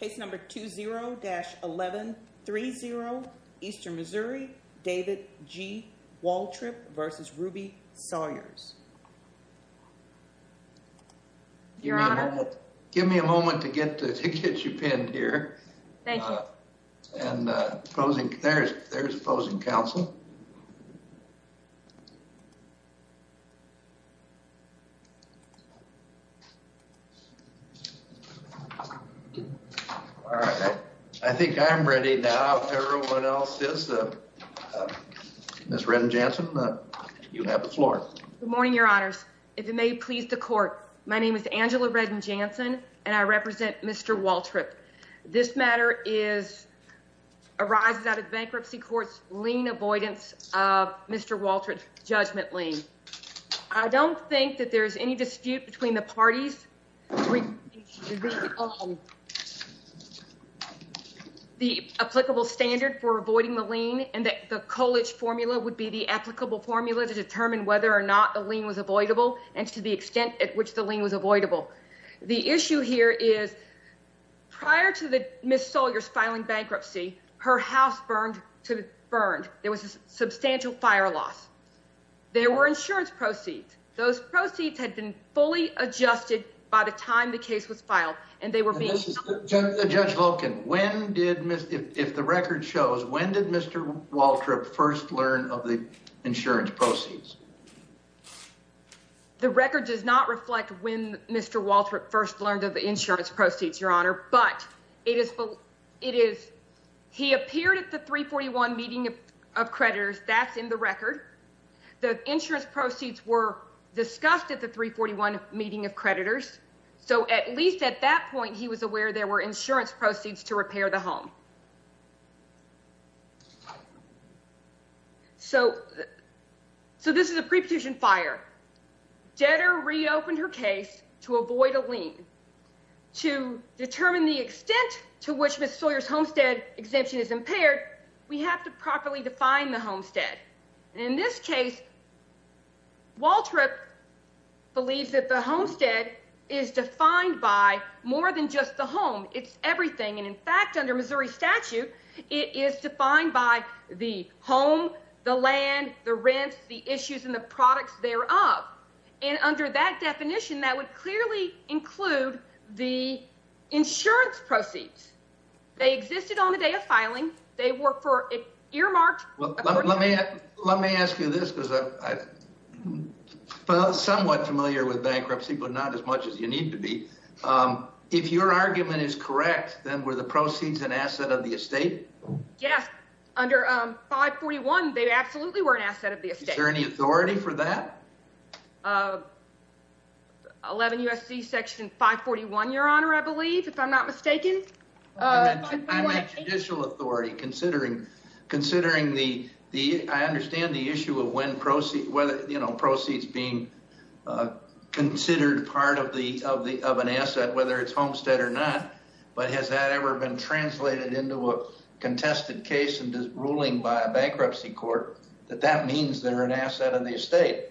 Case number 20-1130, Eastern Missouri, David G. Waltrip v. Ruby Sawyers. Your Honor. Give me a moment to get you pinned here. Thank you. And there's opposing counsel. All right. I think I'm ready now. Everyone else is. Ms. Redden-Jansen, you have the floor. Good morning, Your Honors. If it may please the Court, my name is Angela Redden-Jansen, and I represent Mr. Waltrip. This matter arises out of the Bankruptcy Court's lien avoidance of Mr. Waltrip's judgment lien. I don't think that there's any dispute between the parties on the applicable standard for avoiding the lien and that the Colich formula would be the applicable formula to determine whether or not the lien was avoidable and to the extent at which the lien was avoidable. The issue here is prior to Ms. Sawyers filing bankruptcy, her house burned. There was a substantial fire loss. There were insurance proceeds. Those proceeds had been fully adjusted by the time the case was filed, and they were being sold. Judge Loken, if the record shows, when did Mr. Waltrip first learn of the insurance proceeds? The record does not reflect when Mr. Waltrip first learned of the insurance proceeds, Your Honor, but he appeared at the 341 meeting of creditors. That's in the record. The insurance proceeds were discussed at the 341 meeting of creditors, so at least at that point, he was aware there were insurance proceeds to repair the home. So this is a preposition fire. Detter reopened her case to avoid a lien. To determine the extent to which Ms. Sawyers' homestead exemption is impaired, we have to properly define the homestead. In this case, Waltrip believes that the homestead is defined by more than just the home. It's everything, and in fact, under Missouri statute, it is defined by the home, the land, the rents, the issues, and the products thereof. And under that definition, that would clearly include the insurance proceeds. They existed on the day of filing. They were earmarked. Let me ask you this, because I'm somewhat familiar with bankruptcy, but not as much as you need to be. If your argument is correct, then were the proceeds an asset of the estate? Yes. Under 541, they absolutely were an asset of the estate. Is there any authority for that? 11 U.S.C. section 541, Your Honor, I believe, if I'm not mistaken. I meant judicial authority, considering the ‑‑ I understand the issue of when proceeds ‑‑ whether, you know, proceeds being considered part of an asset, whether it's homestead or not, but has that ever been translated into a contested case and ruling by a bankruptcy court that that means they're an asset of the estate?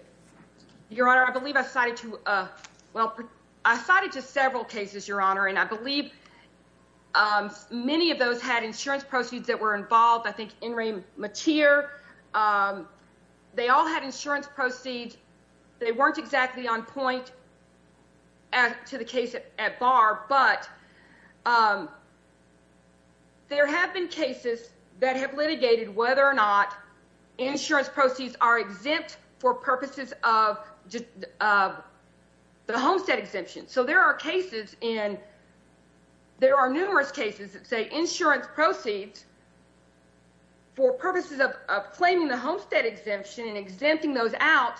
Your Honor, I believe I cited to ‑‑ well, I cited to several cases, Your Honor, and I believe many of those had insurance proceeds that were involved. I think In re Mater, they all had insurance proceeds. They weren't exactly on point to the case at bar, but there have been cases that have litigated whether or not insurance proceeds are exempt for purposes of the homestead exemption. So there are cases in ‑‑ there are numerous cases that say insurance proceeds for purposes of claiming the homestead exemption and exempting those out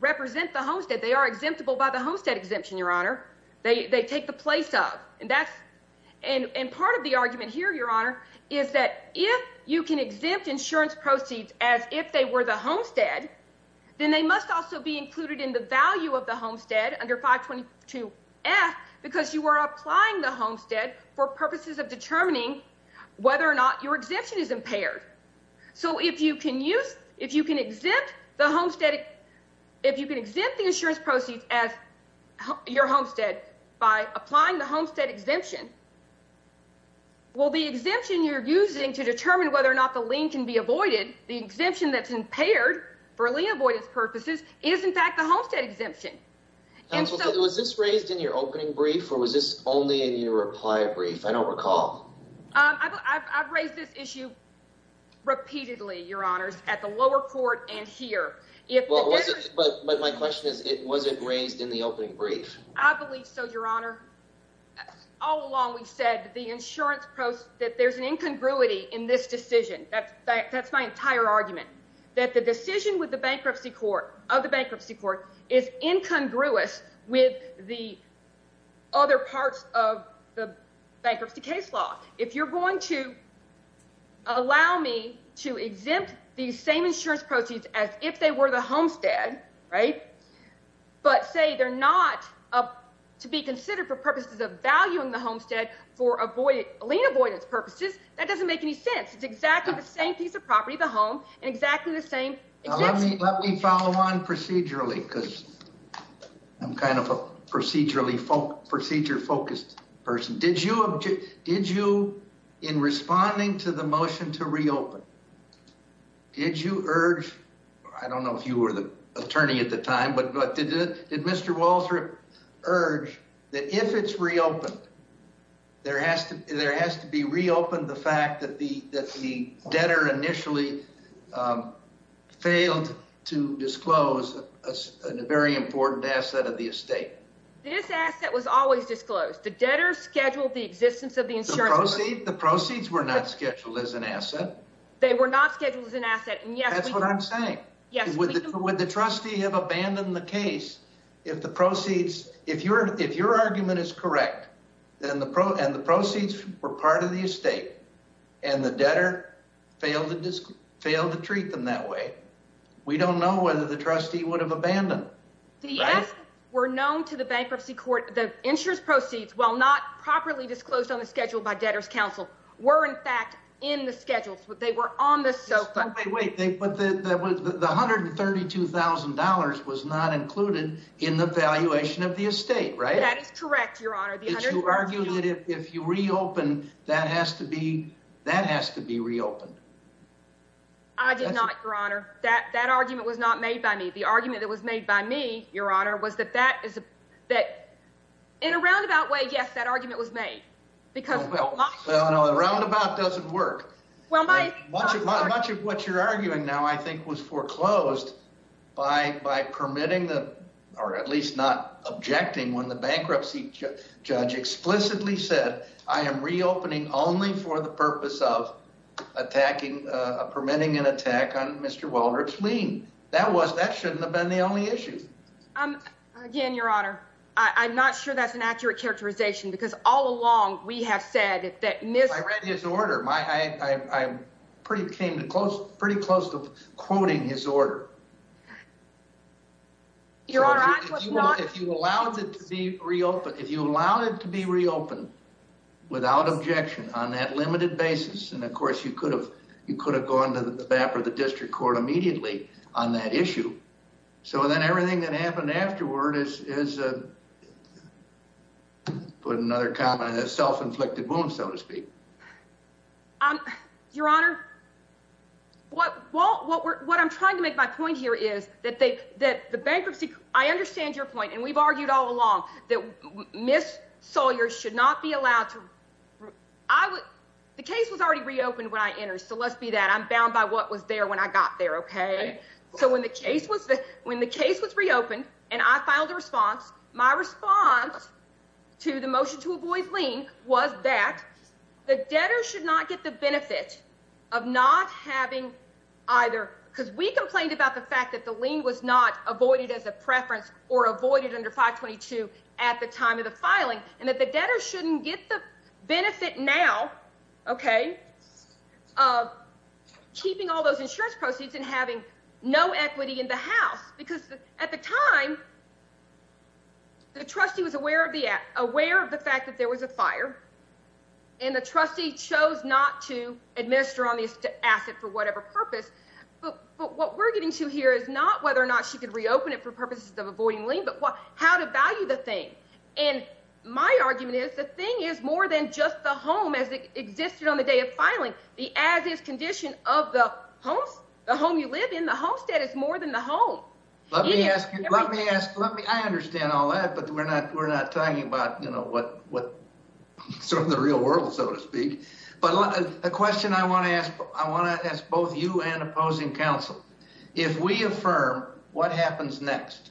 represent the homestead. They are exemptable by the homestead exemption, Your Honor. They take the place of. And that's ‑‑ and part of the argument here, Your Honor, is that if you can exempt insurance proceeds as if they were the homestead, then they must also be included in the value of the homestead under 522F because you are applying the homestead for purposes of determining whether or not your exemption is impaired. So if you can use ‑‑ if you can exempt the homestead ‑‑ if you can exempt the insurance proceeds as your homestead by applying the homestead exemption, well, the exemption you're using to determine whether or not the lien can be avoided, the exemption that's impaired for lien avoidance purposes is, in fact, the homestead exemption. And so ‑‑ Counsel, was this raised in your opening brief or was this only in your reply brief? I don't recall. I've raised this issue repeatedly, Your Honors, at the lower court and here. But my question is, was it raised in the opening brief? I believe so, Your Honor. All along we've said the insurance ‑‑ that there's an incongruity in this decision. That's my entire argument, that the decision with the bankruptcy court, is incongruous with the other parts of the bankruptcy case law. If you're going to allow me to exempt these same insurance proceeds as if they were the homestead, right, but say they're not to be considered for purposes of valuing the homestead for lien avoidance purposes, that doesn't make any sense. It's exactly the same piece of property, the home, and exactly the same exemption. Let me follow on procedurally, because I'm kind of a procedure‑focused person. Did you, in responding to the motion to reopen, did you urge, I don't know if you were the attorney at the time, but did Mr. Walsh urge that if it's reopened, there has to be reopened the fact that the debtor initially failed to disclose a very important asset of the estate? This asset was always disclosed. The debtor scheduled the existence of the insurance. The proceeds were not scheduled as an asset. They were not scheduled as an asset. That's what I'm saying. Would the trustee have abandoned the case if the proceeds, if your argument is correct, and the proceeds were part of the estate and the debtor failed to treat them that way, we don't know whether the trustee would have abandoned. The assets were known to the bankruptcy court. The insurance proceeds, while not properly disclosed on the schedule by debtor's counsel, were, in fact, in the schedules. They were on the SOFA. But the $132,000 was not included in the valuation of the estate, right? That is correct, Your Honor. Did you argue that if you reopen, that has to be reopened? I did not, Your Honor. That argument was not made by me. The argument that was made by me, Your Honor, was that in a roundabout way, yes, that argument was made. Well, a roundabout doesn't work. Well, my— Much of what you're arguing now, I think, was foreclosed by permitting the—or at least not objecting when the bankruptcy judge explicitly said, I am reopening only for the purpose of attacking—permitting an attack on Mr. Waldrop's lien. That was—that shouldn't have been the only issue. Again, Your Honor, I'm not sure that's an accurate characterization because all along we have said that— I read his order. I came pretty close to quoting his order. Your Honor, I was not— If you allowed it to be reopened without objection on that limited basis, and of course you could have gone to the BAP or the district court immediately on that issue, so then everything that happened afterward is, put another comment, a self-inflicted wound, so to speak. Your Honor, what I'm trying to make my point here is that the bankruptcy— I understand your point, and we've argued all along that Ms. Sawyer should not be allowed to— I would—the case was already reopened when I entered, so let's be that. I'm bound by what was there when I got there, okay? So when the case was reopened and I filed a response, my response to the motion to avoid lien was that the debtor should not get the benefit of not having either— because we complained about the fact that the lien was not avoided as a preference or avoided under 522 at the time of the filing, and that the debtor shouldn't get the benefit now, okay, of keeping all those insurance proceeds and having no equity in the house. Because at the time, the trustee was aware of the fact that there was a fire, and the trustee chose not to administer on the asset for whatever purpose, but what we're getting to here is not whether or not she could reopen it for purposes of avoiding lien, but how to value the thing. And my argument is the thing is more than just the home as it existed on the day of filing. The as-is condition of the home you live in, the homestead, is more than the home. Let me ask you—I understand all that, but we're not talking about, you know, sort of the real world, so to speak. But a question I want to ask both you and opposing counsel. If we affirm, what happens next?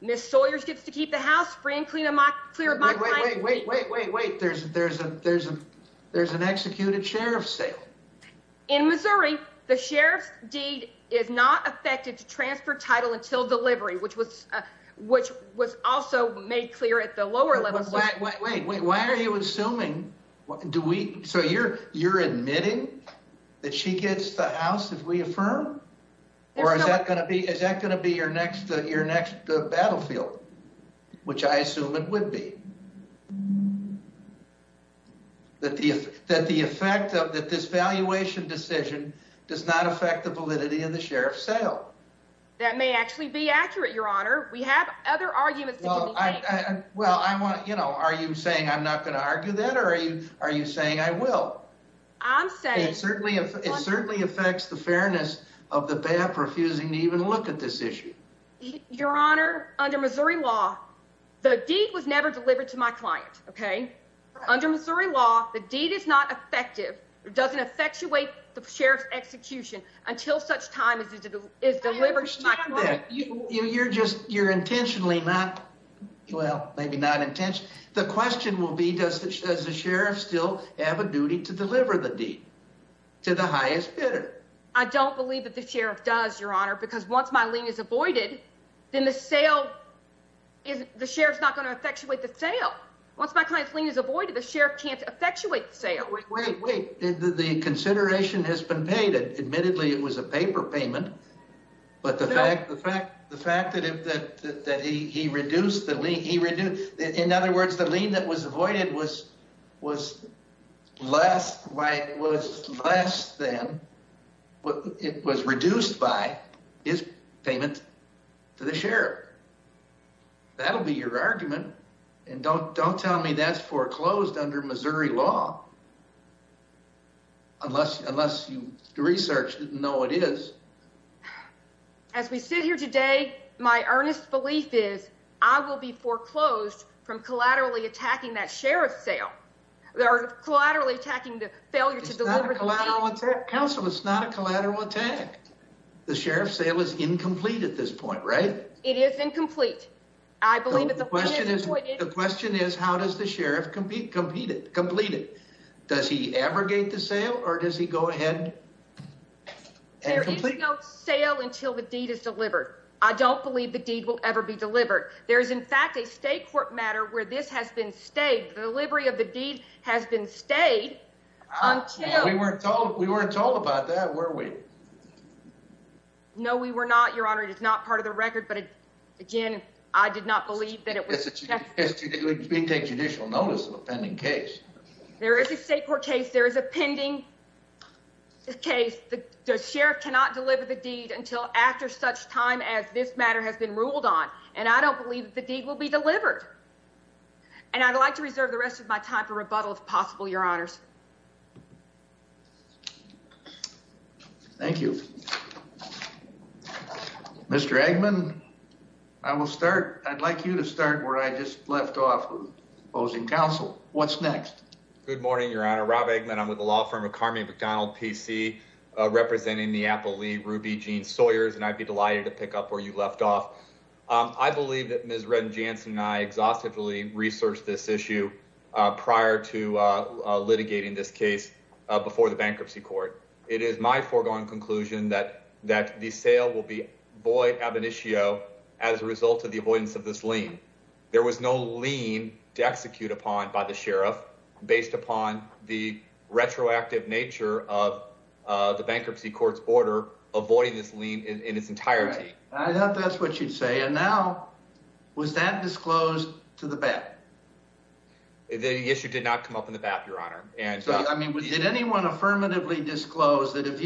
Ms. Sawyers gets to keep the house free and clear of mock crime. Wait, wait, wait, wait, wait, wait. There's an executed sheriff's sale. In Missouri, the sheriff's deed is not affected to transfer title until delivery, which was also made clear at the lower level. Wait, wait, wait, wait. Why are you assuming—do we—so you're admitting that she gets the house if we affirm? Or is that going to be your next battlefield, which I assume it would be? That the effect of—that this valuation decision does not affect the validity of the sheriff's sale? That may actually be accurate, Your Honor. We have other arguments that can be made. Well, I want—you know, are you saying I'm not going to argue that, or are you saying I will? I'm saying— It certainly affects the fairness of the BAP refusing to even look at this issue. Your Honor, under Missouri law, the deed was never delivered to my client, okay? Under Missouri law, the deed is not effective or doesn't effectuate the sheriff's execution until such time as it is delivered to my client. You're just—you're intentionally not—well, maybe not intentionally. The question will be, does the sheriff still have a duty to deliver the deed to the highest bidder? I don't believe that the sheriff does, Your Honor, because once my lien is avoided, then the sale—the sheriff's not going to effectuate the sale. Once my client's lien is avoided, the sheriff can't effectuate the sale. Wait, wait, wait. The consideration has been paid. Admittedly, it was a paper payment. No. But the fact that he reduced the lien—he reduced—in other words, the lien that was avoided was less than—it was reduced by his payment to the sheriff. That'll be your argument. And don't—don't tell me that's foreclosed under Missouri law unless—unless you researched it and know what it is. As we sit here today, my earnest belief is I will be foreclosed from collaterally attacking that sheriff's sale—or collaterally attacking the failure to deliver the deed. It's not a collateral attack, counsel. It's not a collateral attack. The sheriff's sale is incomplete at this point, right? It is incomplete. I believe that the— The question is—the question is how does the sheriff compete—complete it? Does he abrogate the sale or does he go ahead and complete it? There is no sale until the deed is delivered. I don't believe the deed will ever be delivered. There is, in fact, a state court matter where this has been stayed. The delivery of the deed has been stayed until— We weren't told—we weren't told about that, were we? No, we were not, Your Honor. It is not part of the record, but, again, I did not believe that it was— It was being taken judicial notice of a pending case. There is a state court case. There is a pending case. The sheriff cannot deliver the deed until after such time as this matter has been ruled on, and I don't believe that the deed will be delivered. And I'd like to reserve the rest of my time for rebuttal, if possible, Your Honors. Thank you. Mr. Eggman, I will start. I'd like you to start where I just left off, opposing counsel. What's next? Good morning, Your Honor. Rob Eggman. I'm with the law firm of Carmy McDonald, P.C., representing Neapoli, Ruby Jean Sawyers, and I'd be delighted to pick up where you left off. I believe that Ms. Redden-Jansen and I exhaustively researched this issue prior to litigating this case before the bankruptcy court. It is my foregone conclusion that the sale will be void ab initio as a result of the avoidance of this lien. There was no lien to execute upon by the sheriff based upon the retroactive nature of the bankruptcy court's order avoiding this lien in its entirety. I thought that's what you'd say. And now was that disclosed to the bat? The issue did not come up in the bat, Your Honor. Did anyone affirmatively disclose that if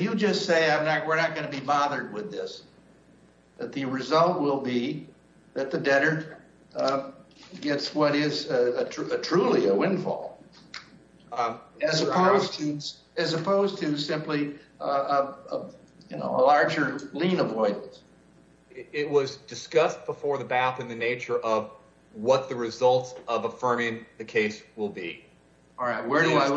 you just say we're not going to be bothered with this, that the result will be that the debtor gets what is truly a windfall as opposed to simply a larger lien avoidance? It was discussed before the bat in the nature of what the results of affirming the case will be. All right. Where do I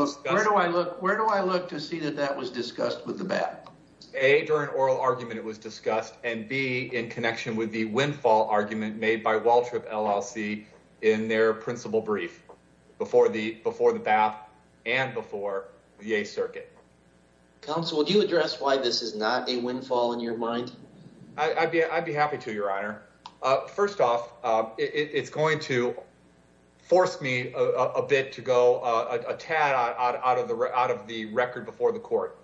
look to see that that was discussed with the bat? A, during oral argument it was discussed, and B, in connection with the windfall argument made by Waltrip LLC in their principal brief before the bat and before the A circuit. Counsel, would you address why this is not a windfall in your mind? I'd be happy to, Your Honor. First off, it's going to force me a bit to go a tad out of the out of the record before the court.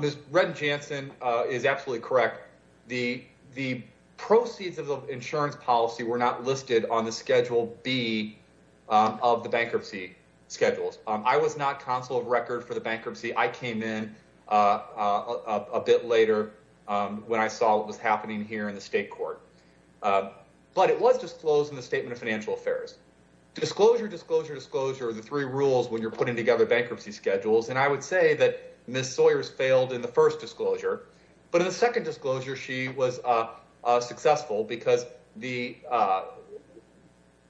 Ms. Red Jansen is absolutely correct. The the proceeds of the insurance policy were not listed on the schedule B of the bankruptcy schedules. I was not counsel of record for the bankruptcy. I came in a bit later when I saw what was happening here in the state court. But it was disclosed in the statement of financial affairs. Disclosure, disclosure, disclosure of the three rules when you're putting together bankruptcy schedules. And I would say that Miss Sawyer's failed in the first disclosure. But in the second disclosure, she was successful because the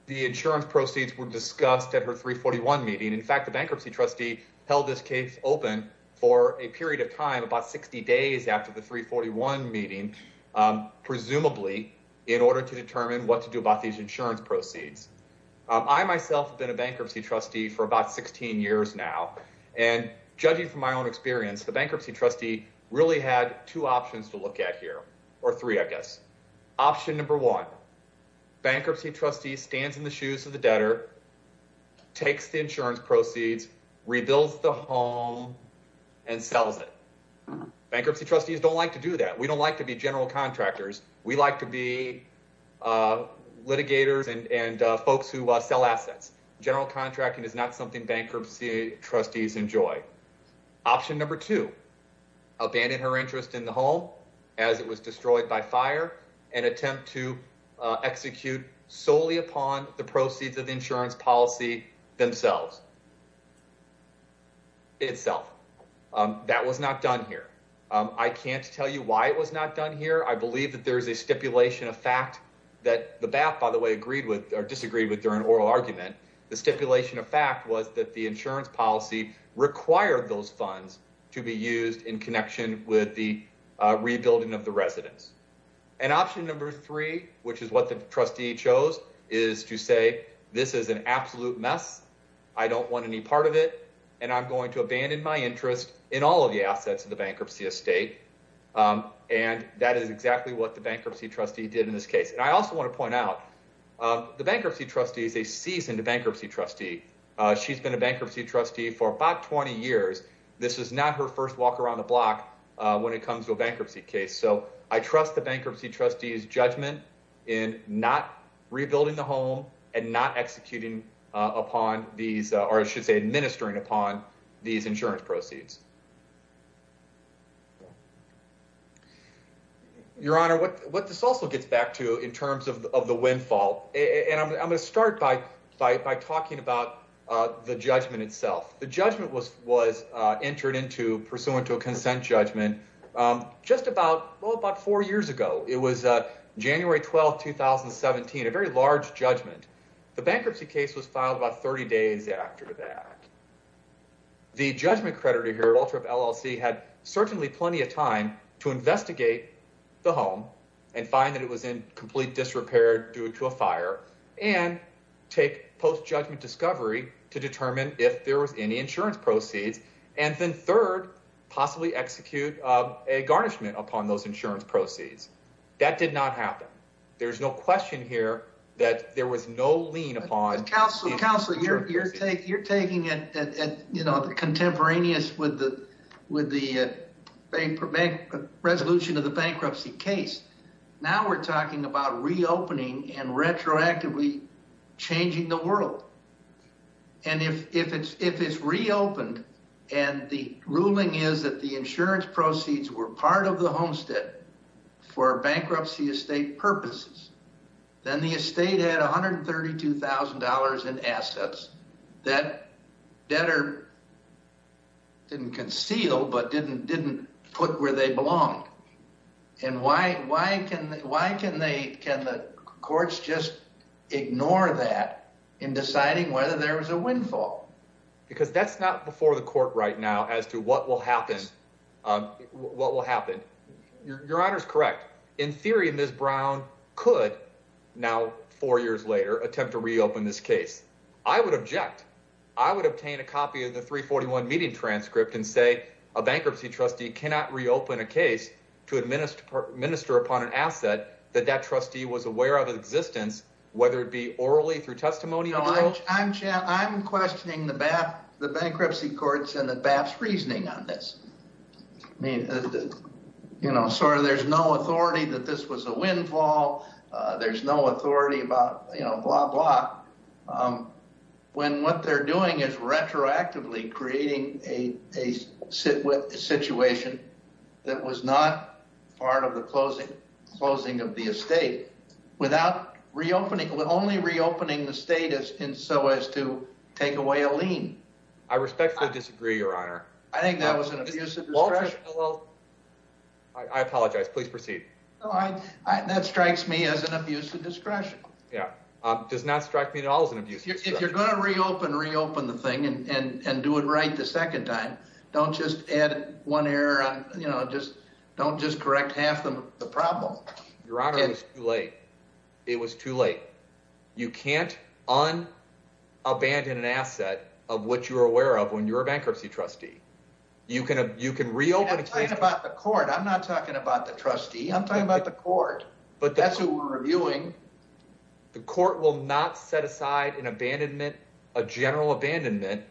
the insurance proceeds were discussed at her three forty one meeting. In fact, the bankruptcy trustee held this case open for a period of time, about 60 days after the three forty one meeting, presumably in order to determine what to do about these insurance proceeds. I myself have been a bankruptcy trustee for about 16 years now. And judging from my own experience, the bankruptcy trustee really had two options to look at here or three, I guess. Option number one, bankruptcy trustee stands in the shoes of the debtor, takes the insurance proceeds, rebuilds the home and sells it. Bankruptcy trustees don't like to do that. We don't like to be general contractors. We like to be litigators and folks who sell assets. General contracting is not something bankruptcy trustees enjoy. Option number two, abandon her interest in the home as it was destroyed by fire and attempt to execute solely upon the proceeds of the insurance policy themselves. Itself, that was not done here. I can't tell you why it was not done here. I believe that there is a stipulation of fact that the BAP, by the way, agreed with or disagreed with during oral argument. The stipulation of fact was that the insurance policy required those funds to be used in connection with the rebuilding of the residents. And option number three, which is what the trustee chose, is to say this is an absolute mess. I don't want any part of it and I'm going to abandon my interest in all of the assets of the bankruptcy estate. And that is exactly what the bankruptcy trustee did in this case. And I also want to point out the bankruptcy trustee is a seasoned bankruptcy trustee. She's been a bankruptcy trustee for about 20 years. This is not her first walk around the block when it comes to a bankruptcy case. So I trust the bankruptcy trustees judgment in not rebuilding the home and not executing upon these or should say administering upon these insurance proceeds. Your Honor, what this also gets back to in terms of the windfall, and I'm going to start by by talking about the judgment itself. The judgment was entered into pursuant to a consent judgment just about four years ago. It was January 12, 2017, a very large judgment. The bankruptcy case was filed about 30 days after that. The judgment creditor here, Walter of LLC, had certainly plenty of time to investigate the home and find that it was in complete disrepair due to a fire and take post judgment discovery to determine if there was any insurance proceeds. And then third, possibly execute a garnishment upon those insurance proceeds. That did not happen. There is no question here that there was no lien upon. Counselor, you're taking it contemporaneous with the bank resolution of the bankruptcy case. Now we're talking about reopening and retroactively changing the world. And if it's reopened and the ruling is that the insurance proceeds were part of the homestead for bankruptcy estate purposes, then the estate had $132,000 in assets that debtor didn't conceal but didn't put where they belong. And why can the courts just ignore that in deciding whether there was a windfall? Because that's not before the court right now as to what will happen. Your Honor is correct. In theory, Ms. Brown could now four years later attempt to reopen this case. I would object. I would obtain a copy of the 341 meeting transcript and say a bankruptcy trustee cannot reopen a case to administer minister upon an asset that that trustee was aware of existence, whether it be orally through testimony. I'm questioning the bankruptcy courts and the best reasoning on this. You know, sir, there's no authority that this was a windfall. There's no authority about, you know, blah, blah. When what they're doing is retroactively creating a sit with a situation that was not part of the closing, closing of the estate without reopening, only reopening the status in so as to take away a lien. I respectfully disagree, Your Honor. I think that was an abusive. I apologize. Please proceed. That strikes me as an abuse of discretion. Yeah, does not strike me at all as an abuse. If you're going to reopen, reopen the thing and do it right the second time. Don't just add one error. You know, just don't just correct half of the problem. Your Honor is too late. It was too late. You can't on abandon an asset of what you're aware of when you're a bankruptcy trustee. You can you can reopen about the court. I'm not talking about the trustee. I'm talking about the court. But that's who we're reviewing. The court will not set aside an abandonment, a general abandonment,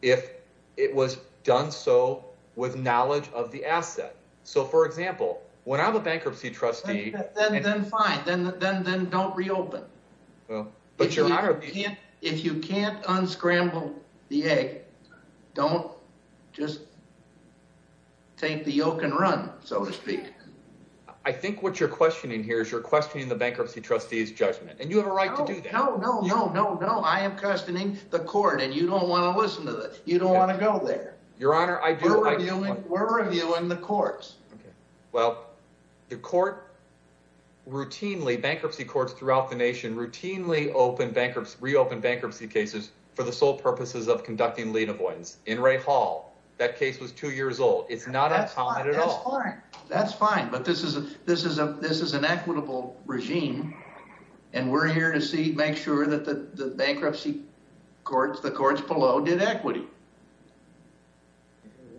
if it was done so with knowledge of the asset. So, for example, when I'm a bankruptcy trustee. Then fine, then then then don't reopen. But you're not. If you can't unscramble the egg, don't just. Take the yoke and run, so to speak. I think what you're questioning here is you're questioning the bankruptcy trustee's judgment. And you have a right to do that. No, no, no, no, no. I am questioning the court. And you don't want to listen to that. You don't want to go there. Your Honor, I do. We're reviewing the courts. Well, the court routinely bankruptcy courts throughout the nation routinely open bankruptcy, reopen bankruptcy cases for the sole purposes of conducting lien avoidance. In Ray Hall, that case was two years old. It's not uncommon at all. That's fine. But this is a this is a this is an equitable regime. And we're here to see, make sure that the bankruptcy courts, the courts below did equity.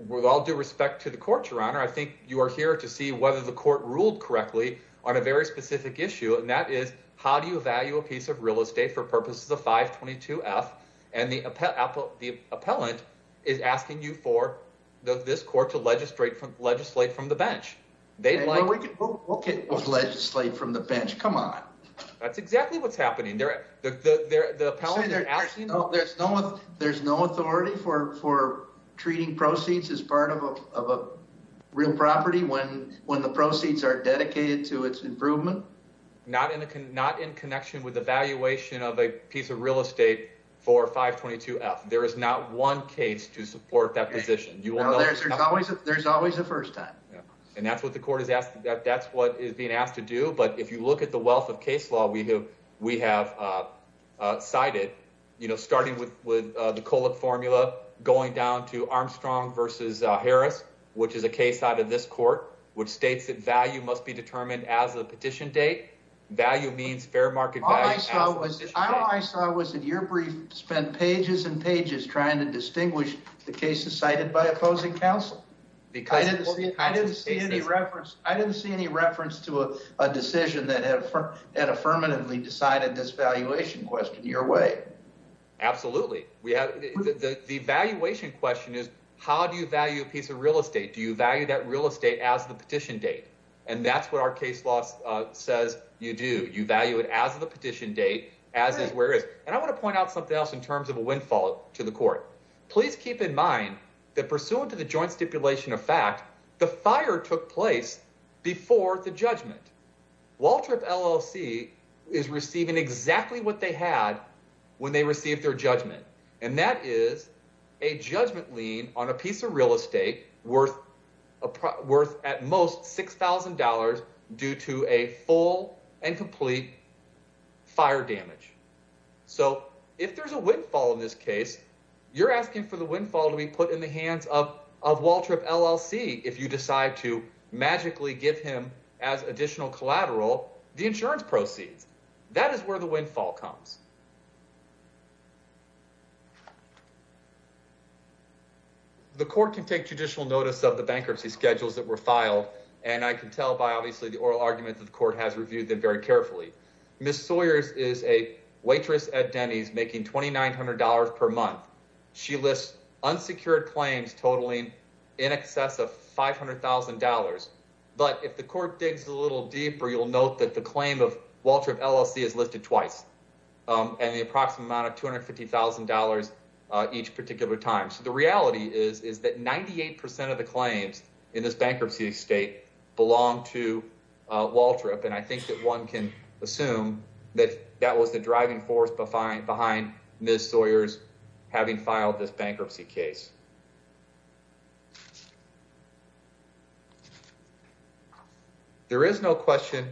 With all due respect to the court, Your Honor, I think you are here to see whether the court ruled correctly on a very specific issue. And that is, how do you value a piece of real estate for purposes of 522 F? And the appellate, the appellant is asking you for this court to legislate, legislate from the bench. They'd like to look at legislate from the bench. Come on. That's exactly what's happening there. There's no there's no authority for for treating proceeds as part of a real property when when the proceeds are dedicated to its improvement. Not in the not in connection with the valuation of a piece of real estate for 522 F. There is not one case to support that position. You know, there's always there's always a first time. And that's what the court is asking. That's what is being asked to do. But if you look at the wealth of case law, we have we have cited, you know, starting with with the formula going down to Armstrong versus Harris, which is a case out of this court, which states that value must be determined as a petition date. Value means fair market. I saw was that your brief spent pages and pages trying to distinguish the cases cited by opposing counsel because I didn't see any reference. I didn't see any reference to a decision that had affirmatively decided this valuation question your way. Absolutely. We have the valuation question is how do you value a piece of real estate? Do you value that real estate as the petition date? And that's what our case law says. You do you value it as the petition date as is, whereas I want to point out something else in terms of a windfall to the court. Please keep in mind that pursuant to the joint stipulation of fact, the fire took place before the judgment. Waltrip LLC is receiving exactly what they had when they received their judgment. And that is a judgment lien on a piece of real estate worth worth at most six thousand dollars due to a full and complete fire damage. So if there's a windfall in this case, you're asking for the windfall to be put in the hands of of Waltrip LLC. If you decide to magically give him as additional collateral, the insurance proceeds. That is where the windfall comes. The court can take judicial notice of the bankruptcy schedules that were filed, and I can tell by obviously the oral argument that the court has reviewed them very carefully. Miss Sawyers is a waitress at Denny's making twenty nine hundred dollars per month. She lists unsecured claims totaling in excess of five hundred thousand dollars. But if the court digs a little deeper, you'll note that the claim of Waltrip LLC is listed twice and the approximate amount of two hundred fifty thousand dollars each particular time. So the reality is, is that ninety eight percent of the claims in this bankruptcy state belong to Waltrip. And I think that one can assume that that was the driving force behind behind Miss Sawyer's having filed this bankruptcy case. There is no question.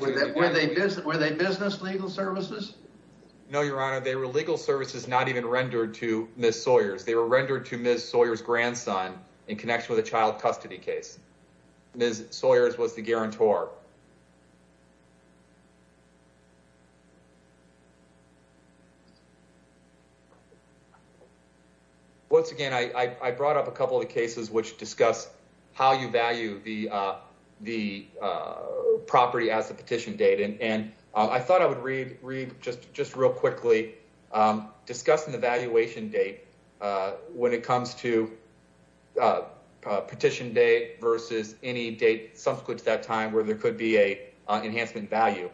Were they business legal services? No, Your Honor, they were legal services not even rendered to Miss Sawyers. They were rendered to Miss Sawyer's grandson in connection with a child custody case. Miss Sawyer's was the guarantor. Once again, I brought up a couple of cases which discuss how you value the the property as a petition date. And I thought I would read read just just real quickly discussing the valuation date when it comes to petition day versus any date subsequent to that time where there could be a enhancement value.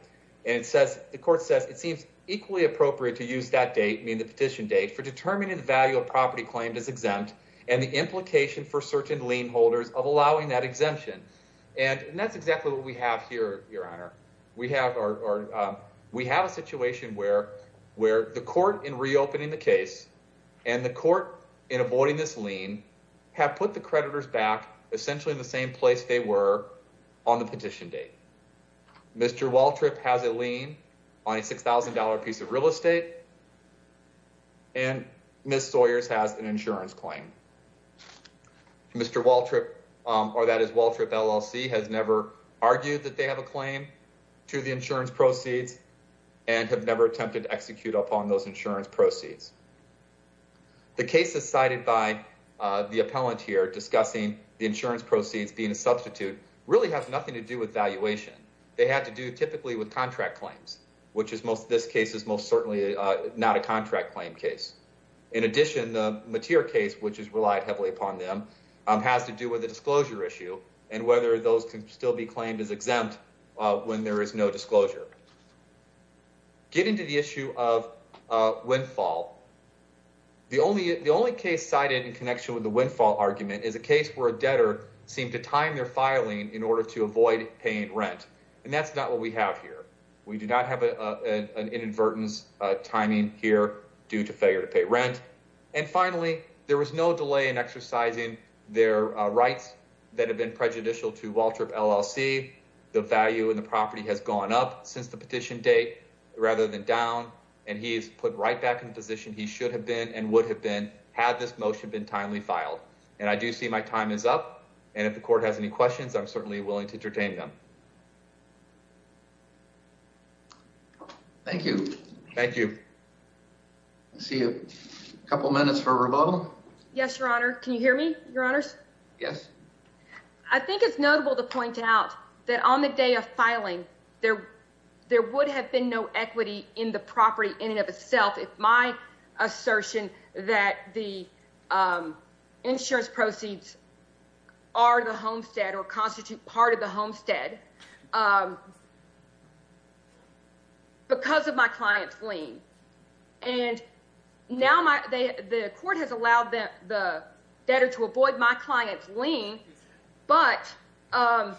And it says the court says it seems equally appropriate to use that date mean the petition date for determining the value of property claimed as exempt and the implication for certain lien holders of allowing that exemption. And that's exactly what we have here. Your Honor, we have our we have a situation where where the court in reopening the case and the court in avoiding this lien have put the creditors back essentially in the same place they were on the petition date. Mr. Waltrip has a lien on a six thousand dollar piece of real estate. And Miss Sawyer's has an insurance claim. Mr. Waltrip or that is Waltrip LLC has never argued that they have a claim to the insurance proceeds and have never attempted to execute upon those insurance proceeds. The case is cited by the appellant here discussing the insurance proceeds being a substitute really have nothing to do with valuation. They had to do typically with contract claims, which is most this case is most certainly not a contract claim case. In addition, the material case, which is relied heavily upon them, has to do with the disclosure issue and whether those can still be claimed as exempt when there is no disclosure. Getting to the issue of windfall, the only the only case cited in connection with the windfall argument is a case where a debtor seemed to time their filing in order to avoid paying rent. And that's not what we have here. We do not have an inadvertence timing here due to failure to pay rent. And finally, there was no delay in exercising their rights that have been prejudicial to Waltrip LLC. The value in the property has gone up since the petition date rather than down. And he's put right back in position. He should have been and would have been had this motion been timely filed. And I do see my time is up. And if the court has any questions, I'm certainly willing to entertain them. Thank you. Thank you. See a couple minutes for a rebuttal. Yes, your honor. Can you hear me, your honors? Yes. I think it's notable to point out that on the day of filing there, there would have been no equity in the property in and of itself. If my assertion that the insurance proceeds are the homestead or constitute part of the homestead because of my client's lien. And now the court has allowed the debtor to avoid my client's lien. But now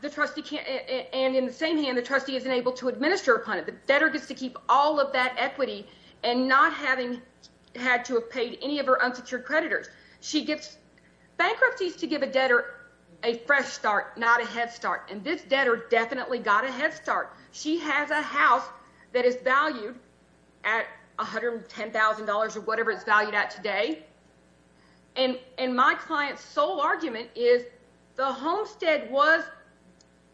the trustee can't. And in the same hand, the trustee isn't able to administer upon it. The debtor gets to keep all of that equity and not having had to have paid any of her unsecured creditors. She gets bankruptcies to give a debtor a fresh start, not a head start. And this debtor definitely got a head start. She has a house that is valued at one hundred and ten thousand dollars or whatever it's valued at today. And my client's sole argument is the homestead was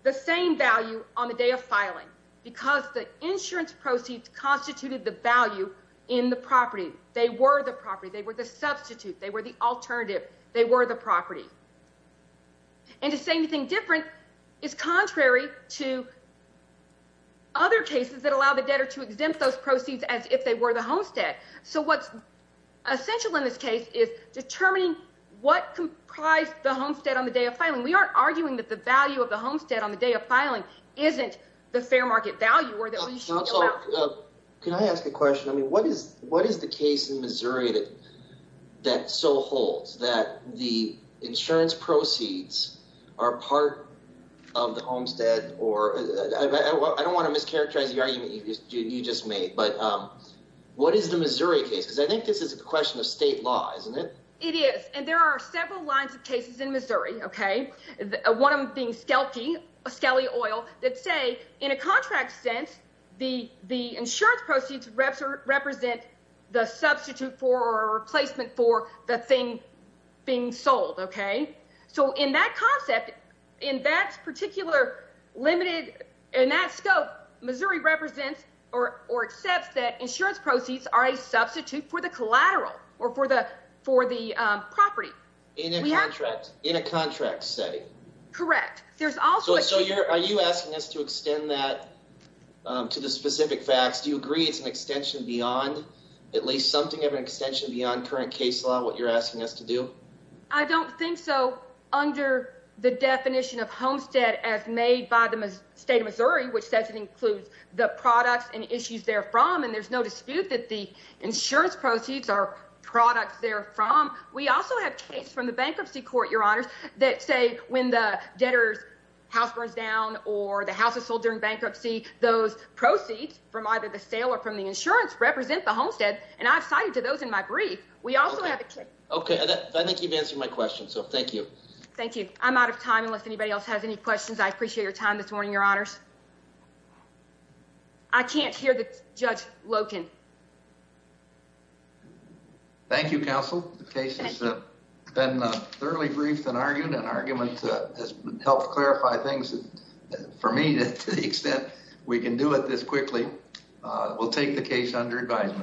the same value on the day of filing because the insurance proceeds constituted the value in the property. They were the property. They were the substitute. They were the alternative. They were the property. And to say anything different is contrary to other cases that allow the debtor to exempt those proceeds as if they were the homestead. So what's essential in this case is determining what comprise the homestead on the day of filing. We aren't arguing that the value of the homestead on the day of filing isn't the fair market value. Can I ask a question? I mean, what is what is the case in Missouri that that so holds that the insurance proceeds are part of the homestead? Or I don't want to mischaracterize the argument you just made. But what is the Missouri case? Because I think this is a question of state law, isn't it? It is. And there are several lines of cases in Missouri. OK, one of them being skelton, a skelly oil that say in a contract sense, the the insurance proceeds represent the substitute for a replacement for the thing being sold. OK, so in that concept, in that particular. Limited in that scope, Missouri represents or or accepts that insurance proceeds are a substitute for the collateral or for the for the property in a contract, in a contract setting. Correct. There's also. So are you asking us to extend that to the specific facts? Do you agree it's an extension beyond at least something of an extension beyond current case law? What you're asking us to do? I don't think so. Under the definition of homestead, as made by the state of Missouri, which says it includes the products and issues there from. And there's no dispute that the insurance proceeds are products there from. We also have case from the bankruptcy court, your honors, that say when the debtors house burns down or the house is sold during bankruptcy, those proceeds from either the sale or from the insurance represent the homestead. And I've cited to those in my brief. We also have. OK, I think you've answered my question, so thank you. Thank you. I'm out of time. Unless anybody else has any questions. I appreciate your time this morning. Your honors. I can't hear the judge Loken. Thank you, counsel. The case has been thoroughly briefed and argued and argument to help clarify things for me to the extent we can do it this quickly. We'll take the case under advisement.